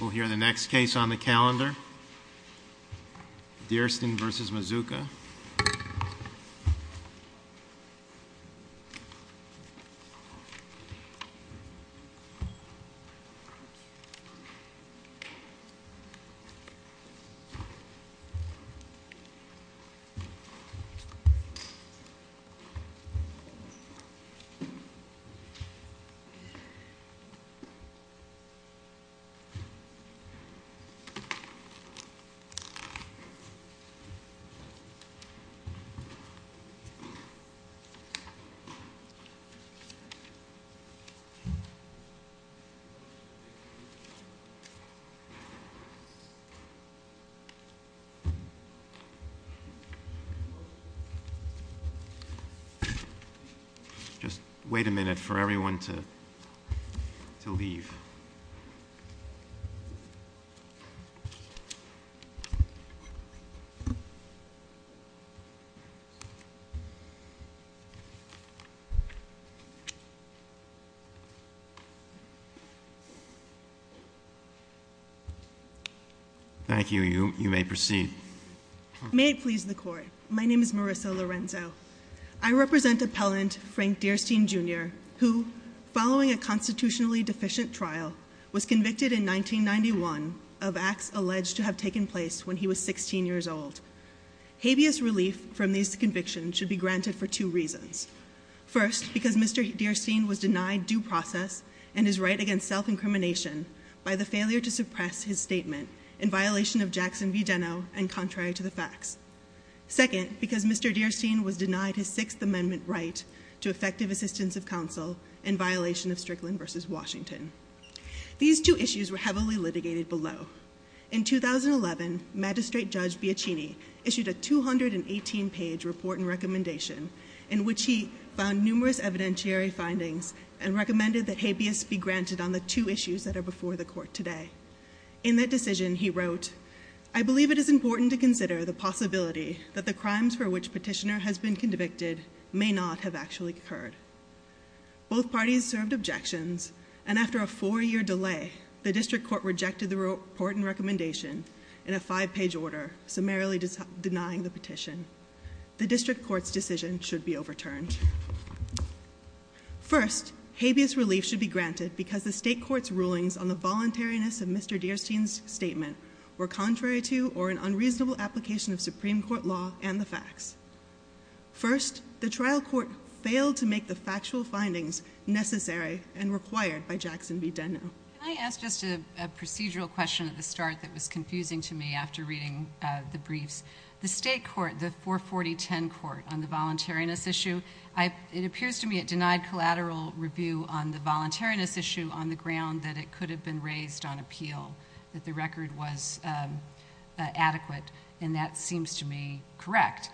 We'll hear the next case on the calendar. Dearstyne v. Mazzuca Just wait a minute for everyone to leave. Thank you. You may proceed. May it please the court. My name is Marissa Lorenzo. I represent appellant Frank Dearstyne Jr. who, following a constitutionally deficient trial, was convicted in 1991 of acts alleged to have taken place when he was 16 years old. Habeas relief from these convictions should be granted for two reasons. First, because Mr. Dearstyne was denied due process and his right against self-incrimination by the failure to suppress his statement in violation of Jackson v. Deno and contrary to the facts. Second, because Mr. Dearstyne was denied his Sixth Amendment right to effective assistance of counsel in violation of Strickland v. Washington. These two issues were heavily litigated below. In 2011, magistrate judge Biacchini issued a 218-page report and recommendation in which he found numerous evidentiary findings and recommended that Habeas be granted on the two issues that are before the court today. In that decision, he wrote, Both parties served objections, and after a four-year delay, the district court rejected the report and recommendation in a five-page order, summarily denying the petition. The district court's decision should be overturned. First, Habeas relief should be granted because the state court's rulings on the voluntariness of Mr. Dearstyne's statement were contrary to or an unreasonable application of Supreme Court law and the facts. First, the trial court failed to make the factual findings necessary and required by Jackson v. Deno. Can I ask just a procedural question at the start that was confusing to me after reading the briefs? The state court, the 44010 court, on the voluntariness issue, it appears to me it denied collateral review on the voluntariness issue on the ground that it could have been raised on appeal, that the record was adequate, and that seems to me correct.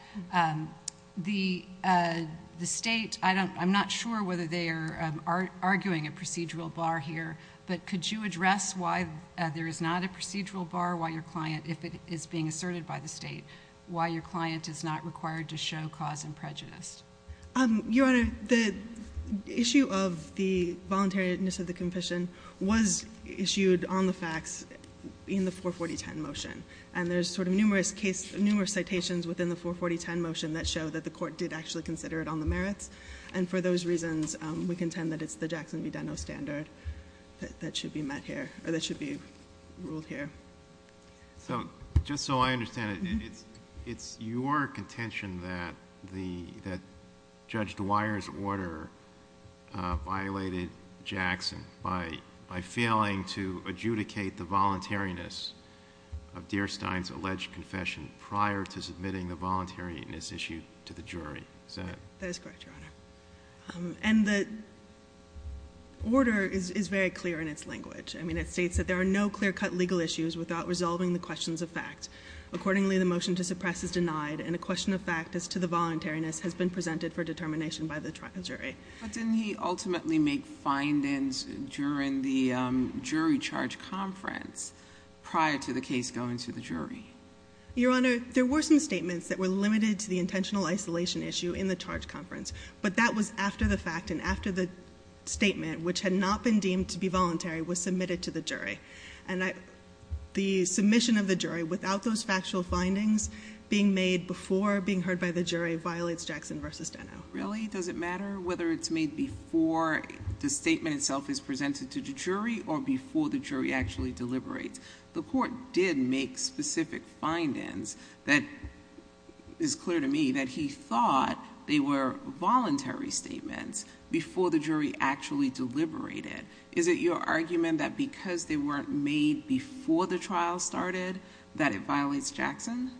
The state, I'm not sure whether they are arguing a procedural bar here, but could you address why there is not a procedural bar, if it is being asserted by the state, why your client is not required to show cause and prejudice? Your Honor, the issue of the voluntariness of the confession was issued on the facts in the 44010 motion, and there's sort of numerous citations within the 44010 motion that show that the court did actually consider it on the merits, and for those reasons we contend that it's the Jackson v. Deno standard that should be met here, or that should be ruled here. Just so I understand it, it's your contention that Judge Dwyer's order violated Jackson by failing to adjudicate the voluntariness of Dierstein's alleged confession prior to submitting the voluntariness issue to the jury, is that it? That is correct, Your Honor. And the order is very clear in its language. I mean, it states that there are no clear-cut legal issues without resolving the questions of fact. Accordingly, the motion to suppress is denied, and a question of fact as to the voluntariness has been presented for determination by the jury. But didn't he ultimately make findings during the jury charge conference prior to the case going to the jury? Your Honor, there were some statements that were limited to the intentional isolation issue in the charge conference, but that was after the fact and after the statement, which had not been deemed to be voluntary, was submitted to the jury. And the submission of the jury without those factual findings being made before being heard by the jury violates Jackson v. Deno. Really? Does it matter whether it's made before the statement itself is presented to the jury or before the jury actually deliberates? The court did make specific findings that is clear to me that he thought they were voluntary statements before the jury actually deliberated. Is it your argument that because they weren't made before the trial started, that it violates Jackson?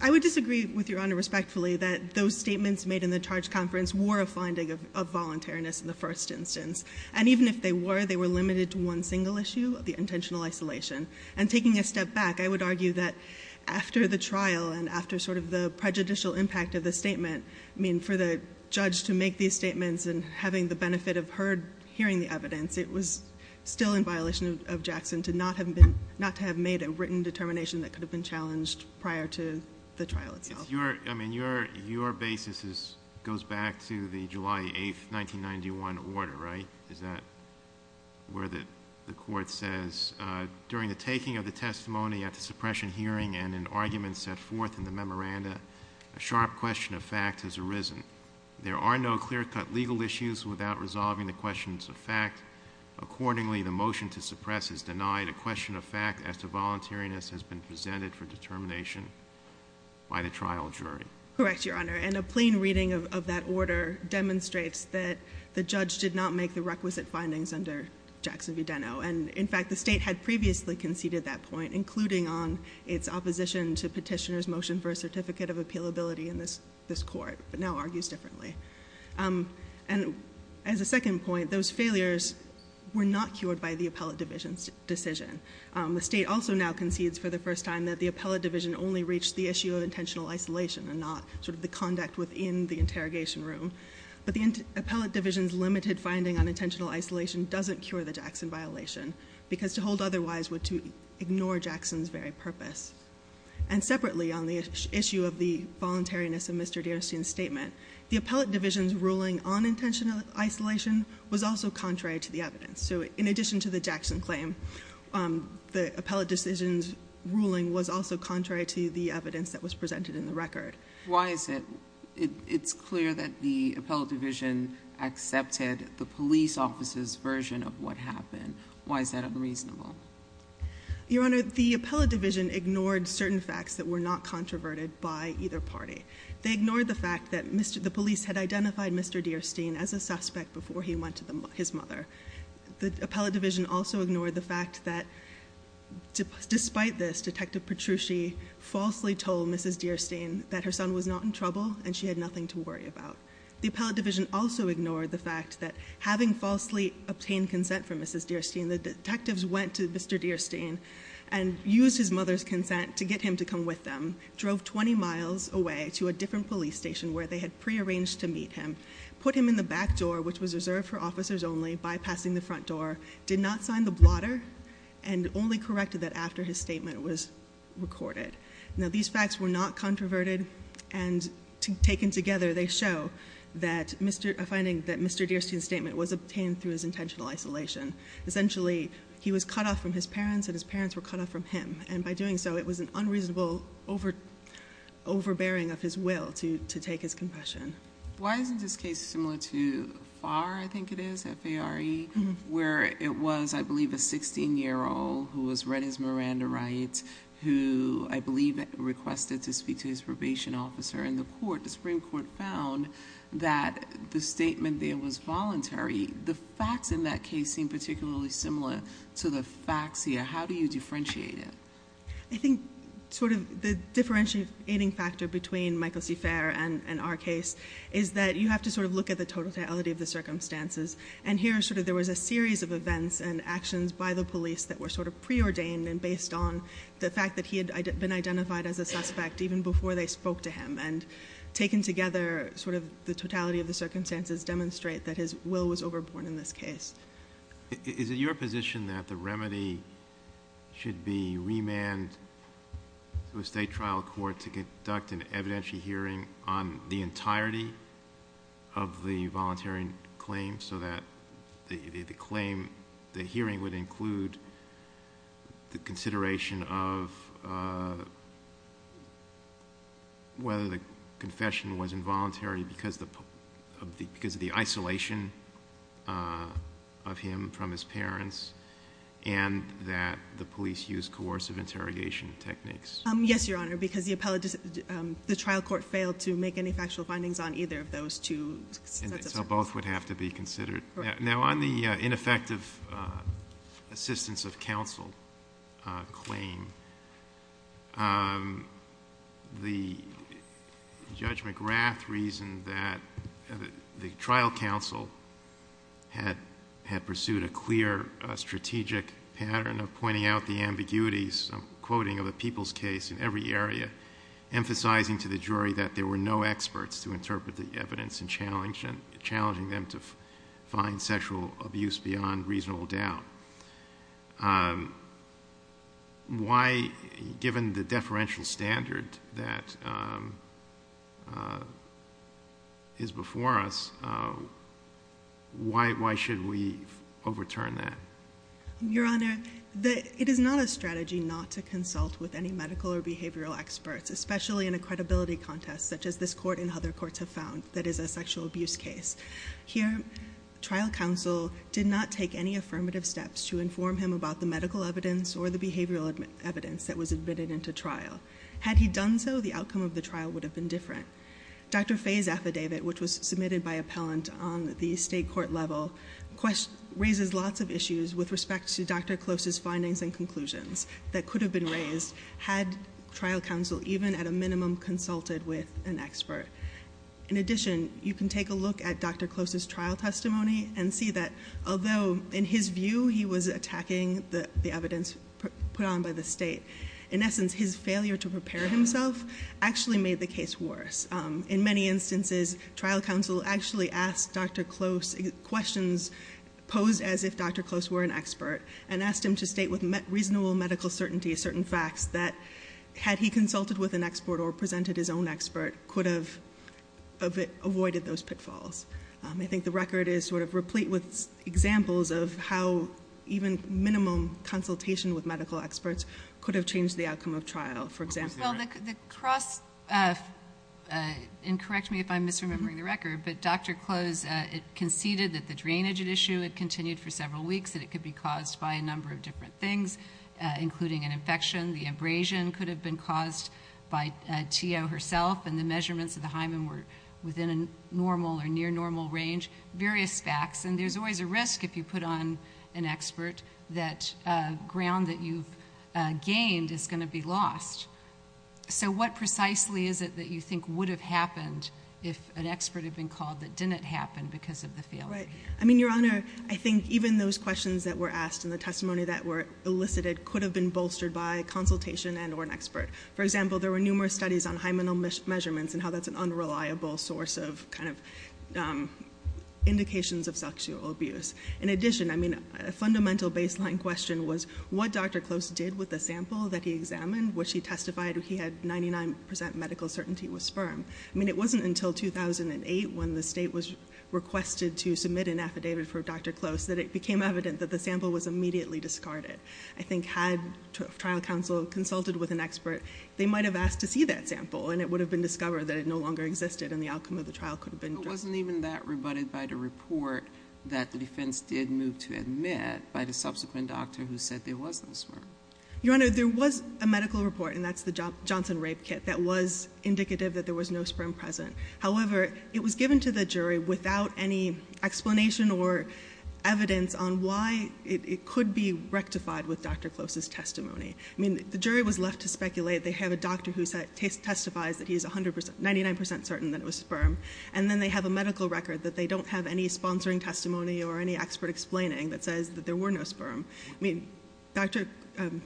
I would disagree with Your Honor respectfully that those statements made in the charge conference were a finding of voluntariness in the first instance. And even if they were, they were limited to one single issue, the intentional isolation. And taking a step back, I would argue that after the trial and after sort of the prejudicial impact of the statement, I mean, for the judge to make these statements and having the benefit of hearing the evidence, it was still in violation of Jackson not to have made a written determination that could have been challenged prior to the trial itself. I mean, your basis goes back to the July 8, 1991 order, right? Is that where the court says, during the taking of the testimony at the suppression hearing and in arguments set forth in the memoranda, a sharp question of fact has arisen. There are no clear-cut legal issues without resolving the questions of fact. Accordingly, the motion to suppress is denied. A question of fact as to voluntariness has been presented for determination by the trial jury. Correct, Your Honor. And a plain reading of that order demonstrates that the judge did not make the requisite findings under Jackson v. Deno. And, in fact, the state had previously conceded that point, including on its opposition to petitioner's motion for a certificate of appealability in this court, but now argues differently. And as a second point, those failures were not cured by the appellate division's decision. The state also now concedes for the first time that the appellate division only reached the issue of intentional isolation and not sort of the conduct within the interrogation room. But the appellate division's limited finding on intentional isolation doesn't cure the Jackson violation, because to hold otherwise would ignore Jackson's very purpose. And separately, on the issue of the voluntariness of Mr. Derenstein's statement, the appellate division's ruling on intentional isolation was also contrary to the evidence. So in addition to the Jackson claim, the appellate division's ruling was also contrary to the evidence that was presented in the record. Why is it? It's clear that the appellate division accepted the police officer's version of what happened. Why is that unreasonable? Your Honor, the appellate division ignored certain facts that were not controverted by either party. They ignored the fact that the police had identified Mr. Derenstein as a suspect before he went to his mother. The appellate division also ignored the fact that, despite this, Detective Petrucci falsely told Mrs. Derenstein that her son was not in trouble and she had nothing to worry about. The appellate division also ignored the fact that, having falsely obtained consent from Mrs. Derenstein, the detectives went to Mr. Derenstein and used his mother's consent to get him to come with them, drove 20 miles away to a different police station where they had prearranged to meet him, put him in the back door, which was reserved for officers only, bypassing the front door, did not sign the blotter, and only corrected that after his statement was recorded. Now, these facts were not controverted, and taken together they show a finding that Mr. Derenstein's statement was obtained through his intentional isolation. Essentially, he was cut off from his parents and his parents were cut off from him, and by doing so it was an unreasonable overbearing of his will to take his confession. Why isn't this case similar to FARR, I think it is, F-A-R-R-E, where it was, I believe, a 16-year-old who was read as Miranda Wright, who I believe requested to speak to his probation officer, and the Supreme Court found that the statement there was voluntary. The facts in that case seem particularly similar to the facts here. How do you differentiate it? I think the differentiating factor between Michael C. Farr and our case is that you have to look at the totality of the circumstances, that were sort of preordained and based on the fact that he had been identified as a suspect even before they spoke to him, and taken together sort of the totality of the circumstances demonstrate that his will was overborne in this case. Is it your position that the remedy should be remand to a state trial court to conduct an evidentiary hearing on the entirety of the voluntary claim so that the hearing would include the consideration of whether the confession was involuntary because of the isolation of him from his parents and that the police used coercive interrogation techniques? Yes, Your Honor, because the trial court failed to make any factual findings on either of those two sets of facts. So both would have to be considered. Now on the ineffective assistance of counsel claim, the Judge McGrath reasoned that the trial counsel had pursued a clear strategic pattern of pointing out the ambiguities, I'm quoting, of a people's case in every area, emphasizing to the jury that there were no experts to interpret the evidence and challenging them to find sexual abuse beyond reasonable doubt. Why, given the deferential standard that is before us, why should we overturn that? Your Honor, it is not a strategy not to consult with any medical or behavioral experts, especially in a credibility contest such as this court and other courts have found that is a sexual abuse case. Here, trial counsel did not take any affirmative steps to inform him about the medical evidence or the behavioral evidence that was admitted into trial. Had he done so, the outcome of the trial would have been different. Dr. Fay's affidavit, which was submitted by appellant on the state court level, raises lots of issues with respect to Dr. Close's findings and conclusions that could have been raised had trial counsel even at a minimum consulted with an expert. In addition, you can take a look at Dr. Close's trial testimony and see that although in his view he was attacking the evidence put on by the state, in essence, his failure to prepare himself actually made the case worse. In many instances, trial counsel actually asked Dr. Close questions posed as if Dr. Close were an expert and asked him to state with reasonable medical certainty certain facts that, had he consulted with an expert or presented his own expert, could have avoided those pitfalls. I think the record is replete with examples of how even minimum consultation with medical experts could have changed the outcome of trial, for example. Well, the cross- and correct me if I'm misremembering the record, but Dr. Close conceded that the drainage at issue had continued for several weeks, that it could be caused by a number of different things, including an infection. The abrasion could have been caused by T.O. herself, and the measurements of the hymen were within a normal or near-normal range. Various facts, and there's always a risk if you put on an expert, that ground that you've gained is going to be lost. So what precisely is it that you think would have happened if an expert had been called that didn't happen because of the failure? I mean, Your Honor, I think even those questions that were asked and the testimony that were elicited could have been bolstered by a consultation and or an expert. For example, there were numerous studies on hymenal measurements and how that's an unreliable source of indications of sexual abuse. In addition, I mean, a fundamental baseline question was what Dr. Close did with the sample that he examined, which he testified he had 99% medical certainty it was sperm. I mean, it wasn't until 2008 when the state was requested to submit an affidavit for Dr. Close that it became evident that the sample was immediately discarded. I think had trial counsel consulted with an expert, they might have asked to see that sample, and it would have been discovered that it no longer existed, and the outcome of the trial could have been determined. But it wasn't even that rebutted by the report that the defense did move to admit by the subsequent doctor who said there was no sperm. Your Honor, there was a medical report, and that's the Johnson Rape Kit, that was indicative that there was no sperm present. However, it was given to the jury without any explanation or evidence on why it could be rectified with Dr. Close's testimony. I mean, the jury was left to speculate. They have a doctor who testifies that he is 99% certain that it was sperm, and then they have a medical record that they don't have any sponsoring testimony or any expert explaining that says that there were no sperm. I mean,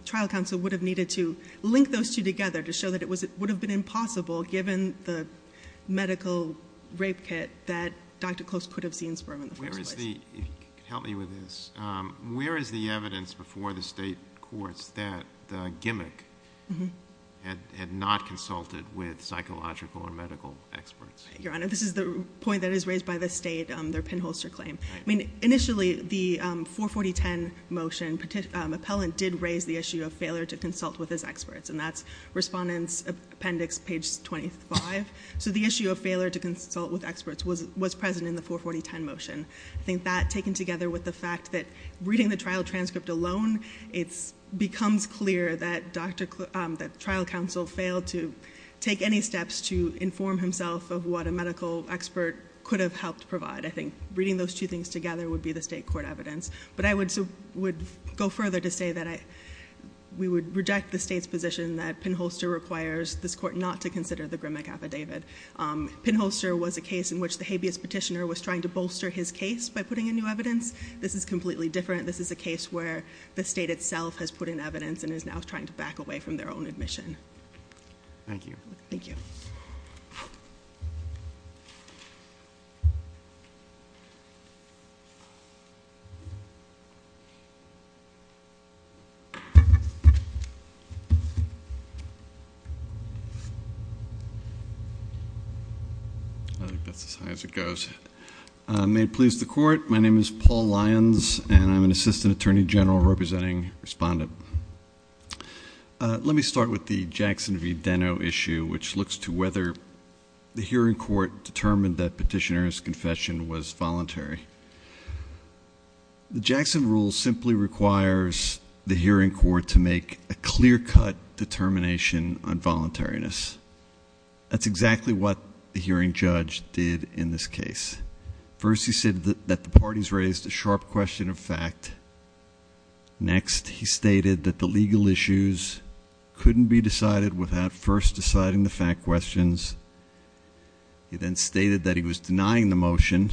trial counsel would have needed to link those two together to show that it would have been impossible given the medical rape kit that Dr. Close could have seen sperm in the first place. Help me with this. Where is the evidence before the state courts that the gimmick had not consulted with psychological or medical experts? Your Honor, this is the point that is raised by the state, their pinholster claim. Initially, the 44010 motion appellant did raise the issue of failure to consult with his experts, and that's Respondent's Appendix, page 25. So the issue of failure to consult with experts was present in the 44010 motion. I think that, taken together with the fact that reading the trial transcript alone, it becomes clear that trial counsel failed to take any steps to inform himself of what a medical expert could have helped provide. I think reading those two things together would be the state court evidence. But I would go further to say that we would reject the state's position that pinholster requires this court not to consider the gimmick affidavit. Pinholster was a case in which the habeas petitioner was trying to bolster his case by putting in new evidence. This is completely different. This is a case where the state itself has put in evidence and is now trying to back away from their own admission. Thank you. Thank you. I think that's as high as it goes. May it please the Court, my name is Paul Lyons, and I'm an Assistant Attorney General representing Respondent. Let me start with the Jackson v. Deno issue, which looks to whether the hearing court determined that petitioner's confession was voluntary. The Jackson rule simply requires the hearing court to make a clear-cut determination on voluntariness. That's exactly what the hearing judge did in this case. First, he said that the parties raised a sharp question of fact. Next, he stated that the legal issues couldn't be decided without first deciding the fact questions. He then stated that he was denying the motion,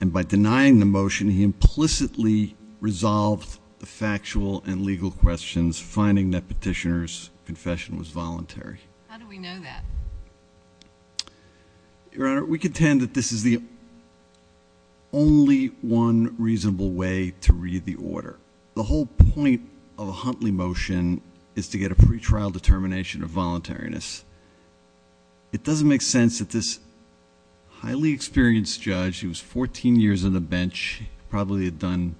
and by denying the motion he implicitly resolved the factual and legal questions, finding that petitioner's confession was voluntary. How do we know that? Your Honor, we contend that this is the only one reasonable way to read the order. The whole point of a Huntley motion is to get a pretrial determination of voluntariness. It doesn't make sense that this highly experienced judge who was 14 years on the bench, probably had done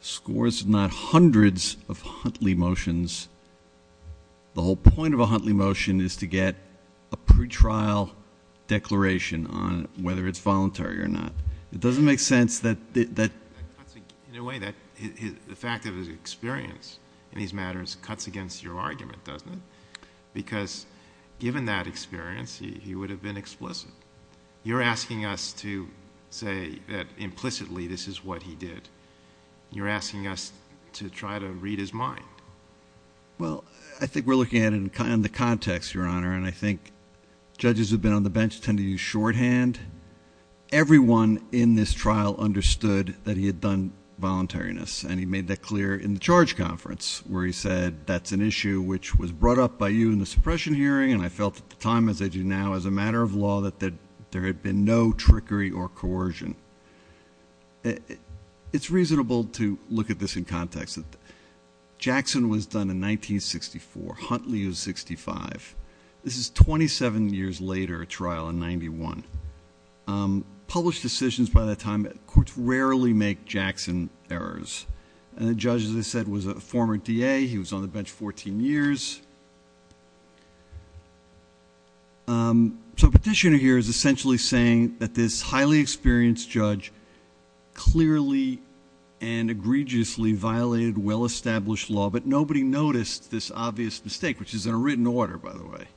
scores, if not hundreds, of Huntley motions. The whole point of a Huntley motion is to get a pretrial declaration on whether it's voluntary or not. It doesn't make sense that the fact of his experience in these matters cuts against your argument, doesn't it? Because given that experience, he would have been explicit. You're asking us to say that implicitly this is what he did. You're asking us to try to read his mind. Well, I think we're looking at it in the context, Your Honor, and I think judges who have been on the bench tend to use shorthand. Everyone in this trial understood that he had done voluntariness, and he made that clear in the charge conference where he said, that's an issue which was brought up by you in the suppression hearing, and I felt at the time, as I do now, as a matter of law, that there had been no trickery or coercion. It's reasonable to look at this in context. Jackson was done in 1964. Huntley was 65. This is 27 years later, a trial in 91. Published decisions by that time rarely make Jackson errors. And the judge, as I said, was a former DA. He was on the bench 14 years. So petitioner here is essentially saying that this highly experienced judge clearly and egregiously violated well-established law, but nobody noticed this obvious mistake, which is in a written order, by the way.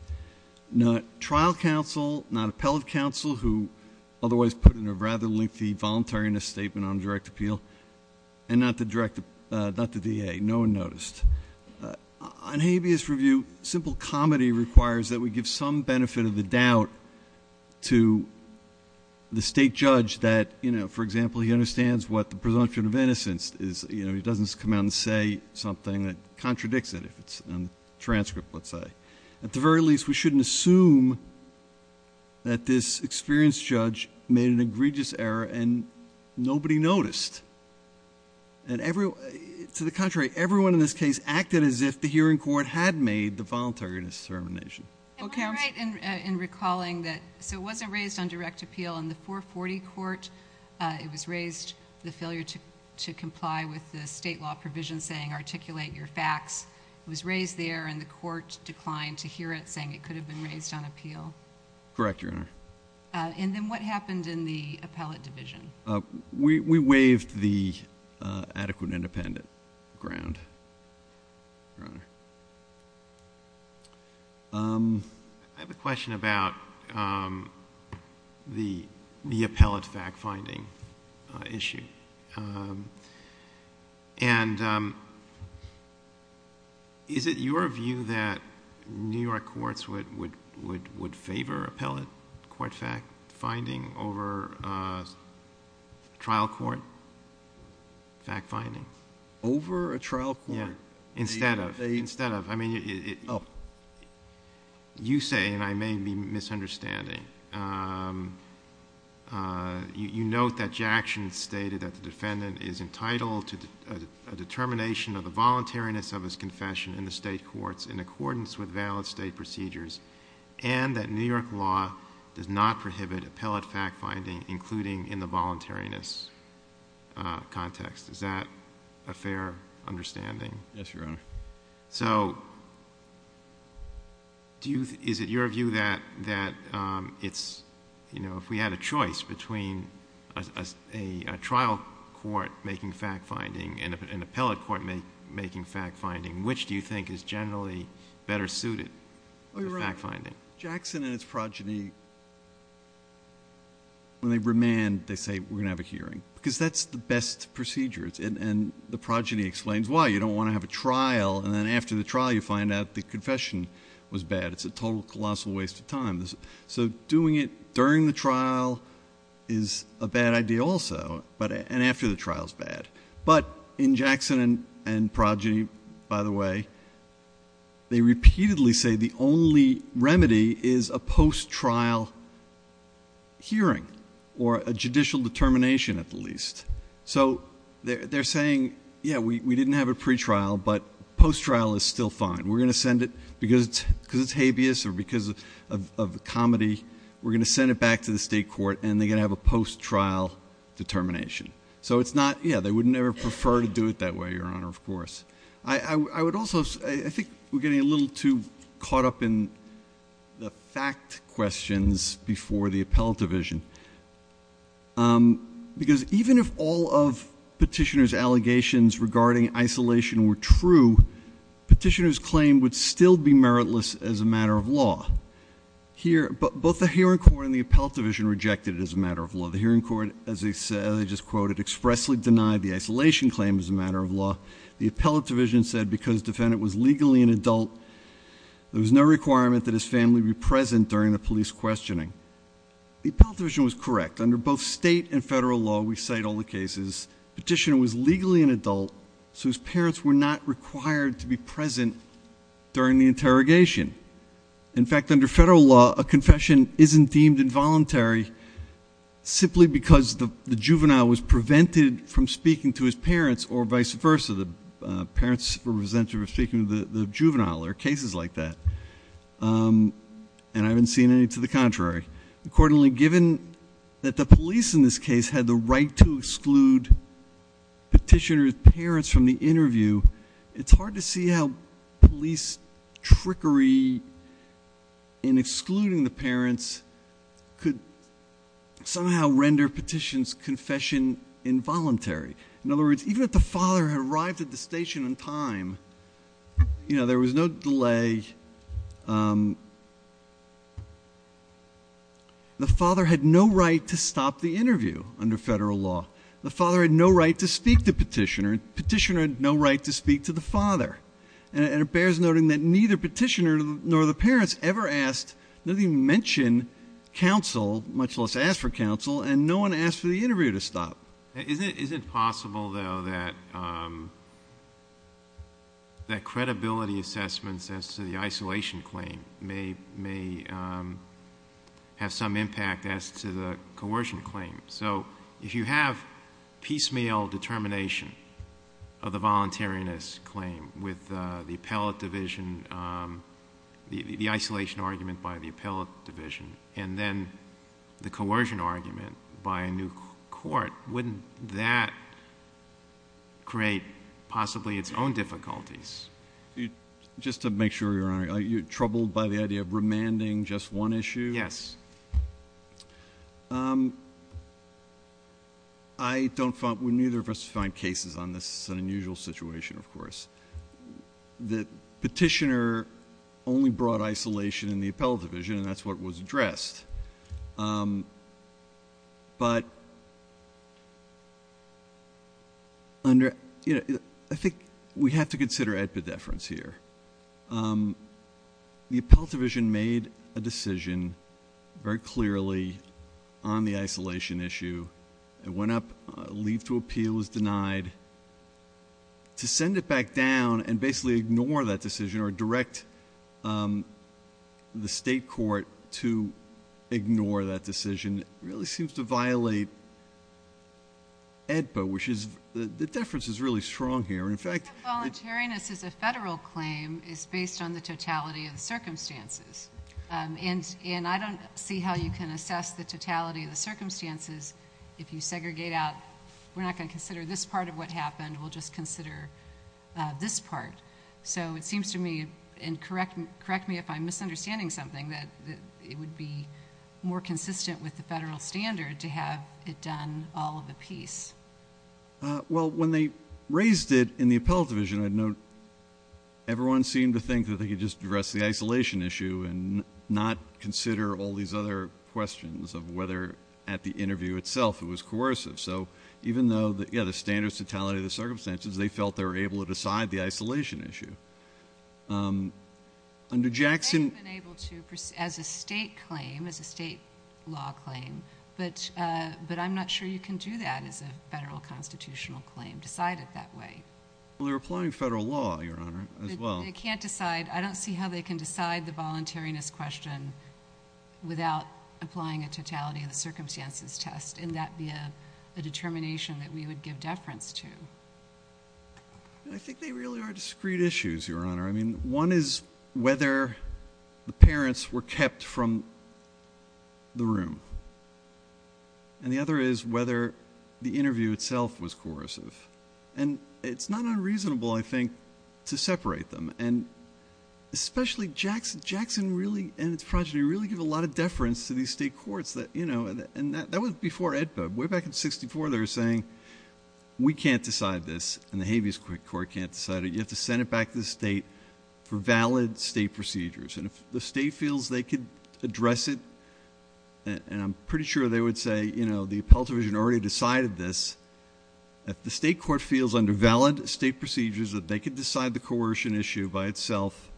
Not trial counsel, not appellate counsel who otherwise put in a rather lengthy voluntariness statement on direct appeal, and not the DA, no one noticed. On habeas review, simple comedy requires that we give some benefit of the doubt to the state judge that, for example, he understands what the presumption of innocence is. He doesn't come out and say something that contradicts it, if it's in the transcript, let's say. At the very least, we shouldn't assume that this experienced judge made an egregious error and nobody noticed. To the contrary, everyone in this case acted as if the hearing court had made the voluntariness determination. Okay. I'm right in recalling that, so it wasn't raised on direct appeal in the 440 court. It was raised the failure to comply with the state law provision saying articulate your facts. It was raised there, and the court declined to hear it, saying it could have been raised on appeal. Correct, Your Honor. And then what happened in the appellate division? We waived the adequate independent ground, Your Honor. I have a question about the appellate fact-finding issue. Is it your view that New York courts would favor appellate court fact-finding over trial court fact-finding? Over a trial court? Instead of. Instead of. You say, and I may be misunderstanding, you note that Jackson stated that the defendant is entitled to a determination of the voluntariness of his confession in the state courts in accordance with valid state procedures, and that New York law does not prohibit appellate fact-finding, including in the voluntariness context. Is that a fair understanding? Yes, Your Honor. So is it your view that if we had a choice between a trial court making fact-finding and an appellate court making fact-finding, which do you think is generally better suited for fact-finding? Oh, Your Honor, Jackson and his progeny, when they remand, they say, we're going to have a hearing, because that's the best procedure, and the progeny explains why. You don't want to have a trial, and then after the trial, you find out the confession was bad. It's a total, colossal waste of time. So doing it during the trial is a bad idea also, and after the trial is bad. But in Jackson and progeny, by the way, they repeatedly say the only remedy is a post-trial hearing or a judicial determination at the least. So they're saying, yeah, we didn't have a pretrial, but post-trial is still fine. We're going to send it, because it's habeas or because of the comedy, we're going to send it back to the state court, and they're going to have a post-trial determination. So it's not, yeah, they would never prefer to do it that way, Your Honor, of course. I would also, I think we're getting a little too caught up in the fact questions before the appellate division. Because even if all of petitioner's allegations regarding isolation were true, petitioner's claim would still be meritless as a matter of law. Here, both the hearing court and the appellate division rejected it as a matter of law. The hearing court, as I just quoted, expressly denied the isolation claim as a matter of law. The appellate division said because defendant was legally an adult, there was no requirement that his family be present during the police questioning. The appellate division was correct. Under both state and federal law, we cite all the cases. Petitioner was legally an adult, so his parents were not required to be present during the interrogation. In fact, under federal law, a confession isn't deemed involuntary simply because the juvenile was prevented from speaking to his parents or vice versa. The parents were prevented from speaking to the juvenile. There are cases like that. And I haven't seen any to the contrary. Accordingly, given that the police in this case had the right to exclude petitioner's parents from the interview, it's hard to see how police trickery in excluding the parents could somehow render petitioner's confession involuntary. In other words, even if the father had arrived at the station in time, you know, there was no delay. The father had no right to stop the interview under federal law. The father had no right to speak to petitioner. Petitioner had no right to speak to the father. And it bears noting that neither petitioner nor the parents ever asked, not even mentioned, counsel, much less asked for counsel, and no one asked for the interview to stop. Isn't it possible, though, that credibility assessments as to the isolation claim may have some impact as to the coercion claim? So if you have piecemeal determination of the voluntariness claim with the appellate division, the isolation argument by the appellate division, and then the coercion argument by a new court, wouldn't that create possibly its own difficulties? Just to make sure, Your Honor, are you troubled by the idea of remanding just one issue? Yes. I don't find – neither of us find cases on this unusual situation, of course. The petitioner only brought isolation in the appellate division, and that's what was addressed. But under – I think we have to consider epideference here. The appellate division made a decision very clearly on the isolation issue. It went up. Leave to appeal was denied. To send it back down and basically ignore that decision or direct the state court to ignore that decision really seems to violate AEDPA, which is – the difference is really strong here. In fact – Voluntariness is a federal claim. It's based on the totality of the circumstances. And I don't see how you can assess the totality of the circumstances if you segregate out – we're not going to consider this part of what happened. We'll just consider this part. So it seems to me – and correct me if I'm misunderstanding something – that it would be more consistent with the federal standard to have it done all of the piece. Well, when they raised it in the appellate division, I'd note everyone seemed to think that they could just address the isolation issue and not consider all these other questions of whether at the interview itself it was coercive. So even though – yeah, the standard totality of the circumstances, they felt they were able to decide the isolation issue. Under Jackson – They have been able to as a state claim, as a state law claim. But I'm not sure you can do that as a federal constitutional claim, decide it that way. Well, they're applying federal law, Your Honor, as well. They can't decide – I don't see how they can decide the voluntariness question without applying a totality of the circumstances test. And that would be a determination that we would give deference to. I think they really are discrete issues, Your Honor. I mean, one is whether the parents were kept from the room. And the other is whether the interview itself was coercive. And it's not unreasonable, I think, to separate them. And especially Jackson and his progeny really give a lot of deference to these state courts. You know, and that was before AEDPA. Way back in 1964, they were saying, we can't decide this, and the Habeas Court can't decide it. You have to send it back to the state for valid state procedures. And if the state feels they could address it, and I'm pretty sure they would say, you know, the appellate division already decided this. If the state court feels under valid state procedures that they could decide the coercion issue by itself,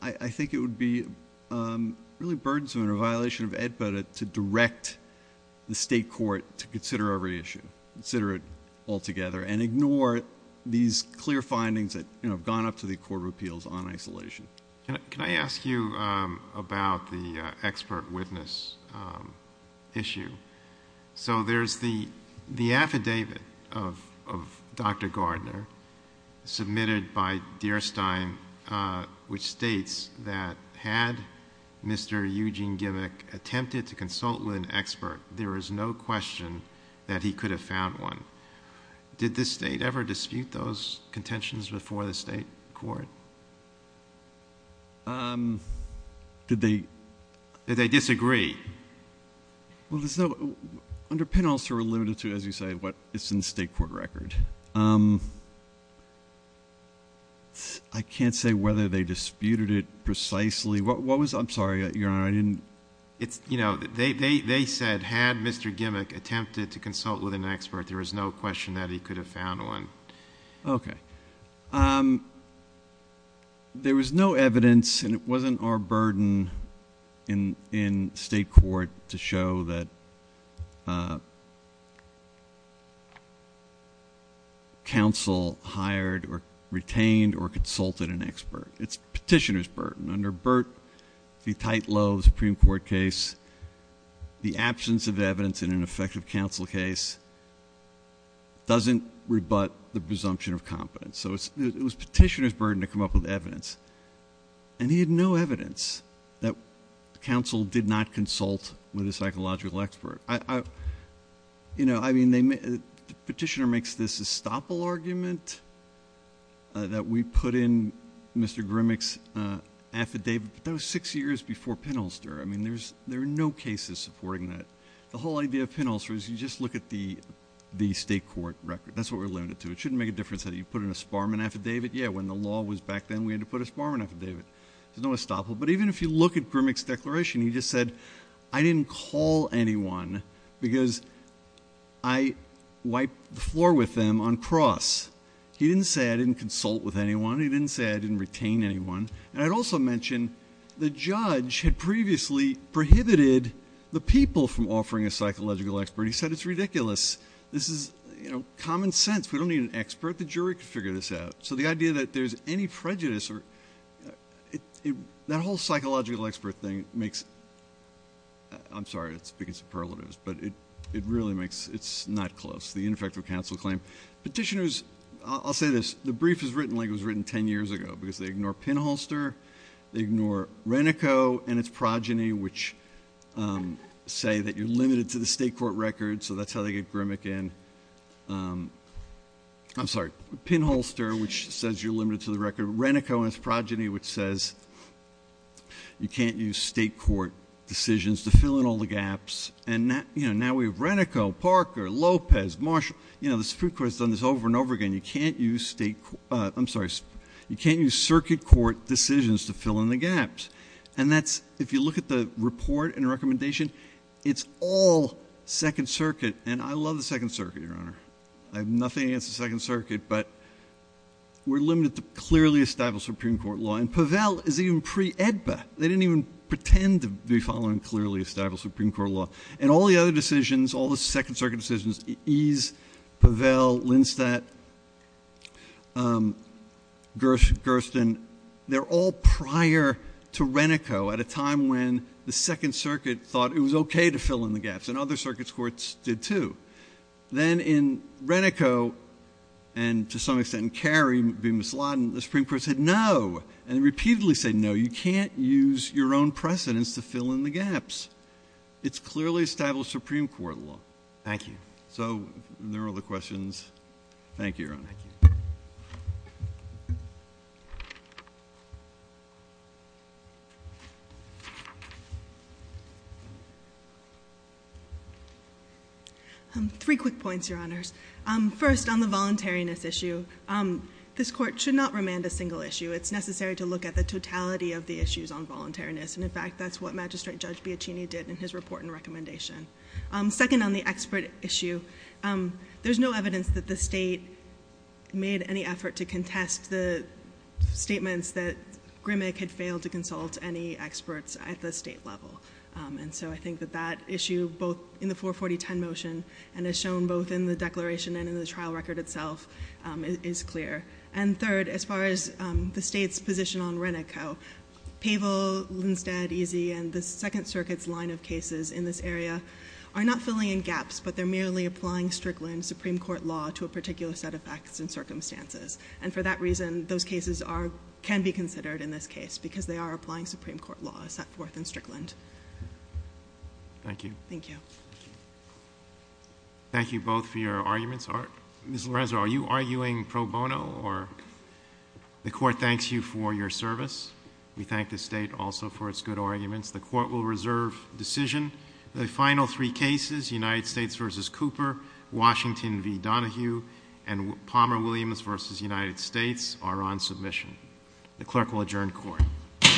I think it would be really burdensome under a violation of AEDPA to direct the state court to consider a reissue, consider it altogether, and ignore these clear findings that have gone up to the court of appeals on isolation. Can I ask you about the expert witness issue? So there's the affidavit of Dr. Gardner submitted by Dierstein, which states that had Mr. Eugene Gimmick attempted to consult with an expert, there is no question that he could have found one. Did the state ever dispute those contentions before the state court? Did they? Did they disagree? Well, there's no ‑‑ under PIN also we're limited to, as you say, what is in the state court record. I can't say whether they disputed it precisely. What was ‑‑ I'm sorry, Your Honor, I didn't ‑‑ You know, they said had Mr. Gimmick attempted to consult with an expert, there was no question that he could have found one. Okay. There was no evidence, and it wasn't our burden in state court to show that counsel hired or retained or consulted an expert. It's petitioner's burden. Under Burt, the tight lobe Supreme Court case, the absence of evidence in an effective counsel case doesn't rebut the presumption of competence. So it was petitioner's burden to come up with evidence. And he had no evidence that counsel did not consult with a psychological expert. You know, I mean, the petitioner makes this estoppel argument that we put in Mr. Gimmick's affidavit, but that was six years before PIN Ulster. I mean, there are no cases supporting that. The whole idea of PIN Ulster is you just look at the state court record. That's what we're limited to. It shouldn't make a difference whether you put in a Sparman affidavit. Yeah, when the law was back then, we had to put a Sparman affidavit. There's no estoppel. But even if you look at Gimmick's declaration, he just said, I didn't call anyone because I wiped the floor with them on cross. He didn't say I didn't consult with anyone. He didn't say I didn't retain anyone. And I'd also mention the judge had previously prohibited the people from offering a psychological expert. He said it's ridiculous. This is, you know, common sense. We don't need an expert. The jury can figure this out. So the idea that there's any prejudice or that whole psychological expert thing makes – I'm sorry to speak in superlatives, but it really makes – it's not close, the ineffective counsel claim. Petitioners – I'll say this. The brief is written like it was written 10 years ago because they ignore Pinholster. They ignore Renico and its progeny, which say that you're limited to the state court record. So that's how they get Grimmick in. I'm sorry, Pinholster, which says you're limited to the record. Renico and its progeny, which says you can't use state court decisions to fill in all the gaps. And, you know, now we have Renico, Parker, Lopez, Marshall. You know, the Supreme Court has done this over and over again. You can't use state – I'm sorry. You can't use circuit court decisions to fill in the gaps. And that's – if you look at the report and recommendation, it's all Second Circuit. And I love the Second Circuit, Your Honor. I have nothing against the Second Circuit, but we're limited to clearly established Supreme Court law. And Pavel is even pre-AEDPA. They didn't even pretend to be following clearly established Supreme Court law. And all the other decisions, all the Second Circuit decisions, Ease, Pavel, Linsteadt, Gersten, they're all prior to Renico at a time when the Second Circuit thought it was okay to fill in the gaps. And other circuit courts did, too. Then in Renico and, to some extent, in Carey v. Misladen, the Supreme Court said no and repeatedly said no, you can't use your own precedence to fill in the gaps. It's clearly established Supreme Court law. Thank you. So there are the questions. Thank you, Your Honor. Thank you. Three quick points, Your Honors. First, on the voluntariness issue, this Court should not remand a single issue. It's necessary to look at the totality of the issues on voluntariness. And, in fact, that's what Magistrate Judge Biacchini did in his report and recommendation. Second, on the expert issue, there's no evidence that the state made any effort to contest the statements that Grimmick had failed to consult any experts at the state level. And so I think that that issue, both in the 44010 motion and as shown both in the declaration and in the trial record itself, is clear. And third, as far as the state's position on Renico, Pavel, Linstead, Easy, and the Second Circuit's line of cases in this area are not filling in gaps, but they're merely applying Strickland Supreme Court law to a particular set of facts and circumstances. And for that reason, those cases can be considered in this case because they are applying Supreme Court law set forth in Strickland. Thank you. Thank you both for your arguments. Ms. Lorenzo, are you arguing pro bono? The court thanks you for your service. We thank the state also for its good arguments. The court will reserve decision. The final three cases, United States v. Cooper, Washington v. Donohue, and Palmer-Williams v. United States, are on submission. The clerk will adjourn court. Court is adjourned.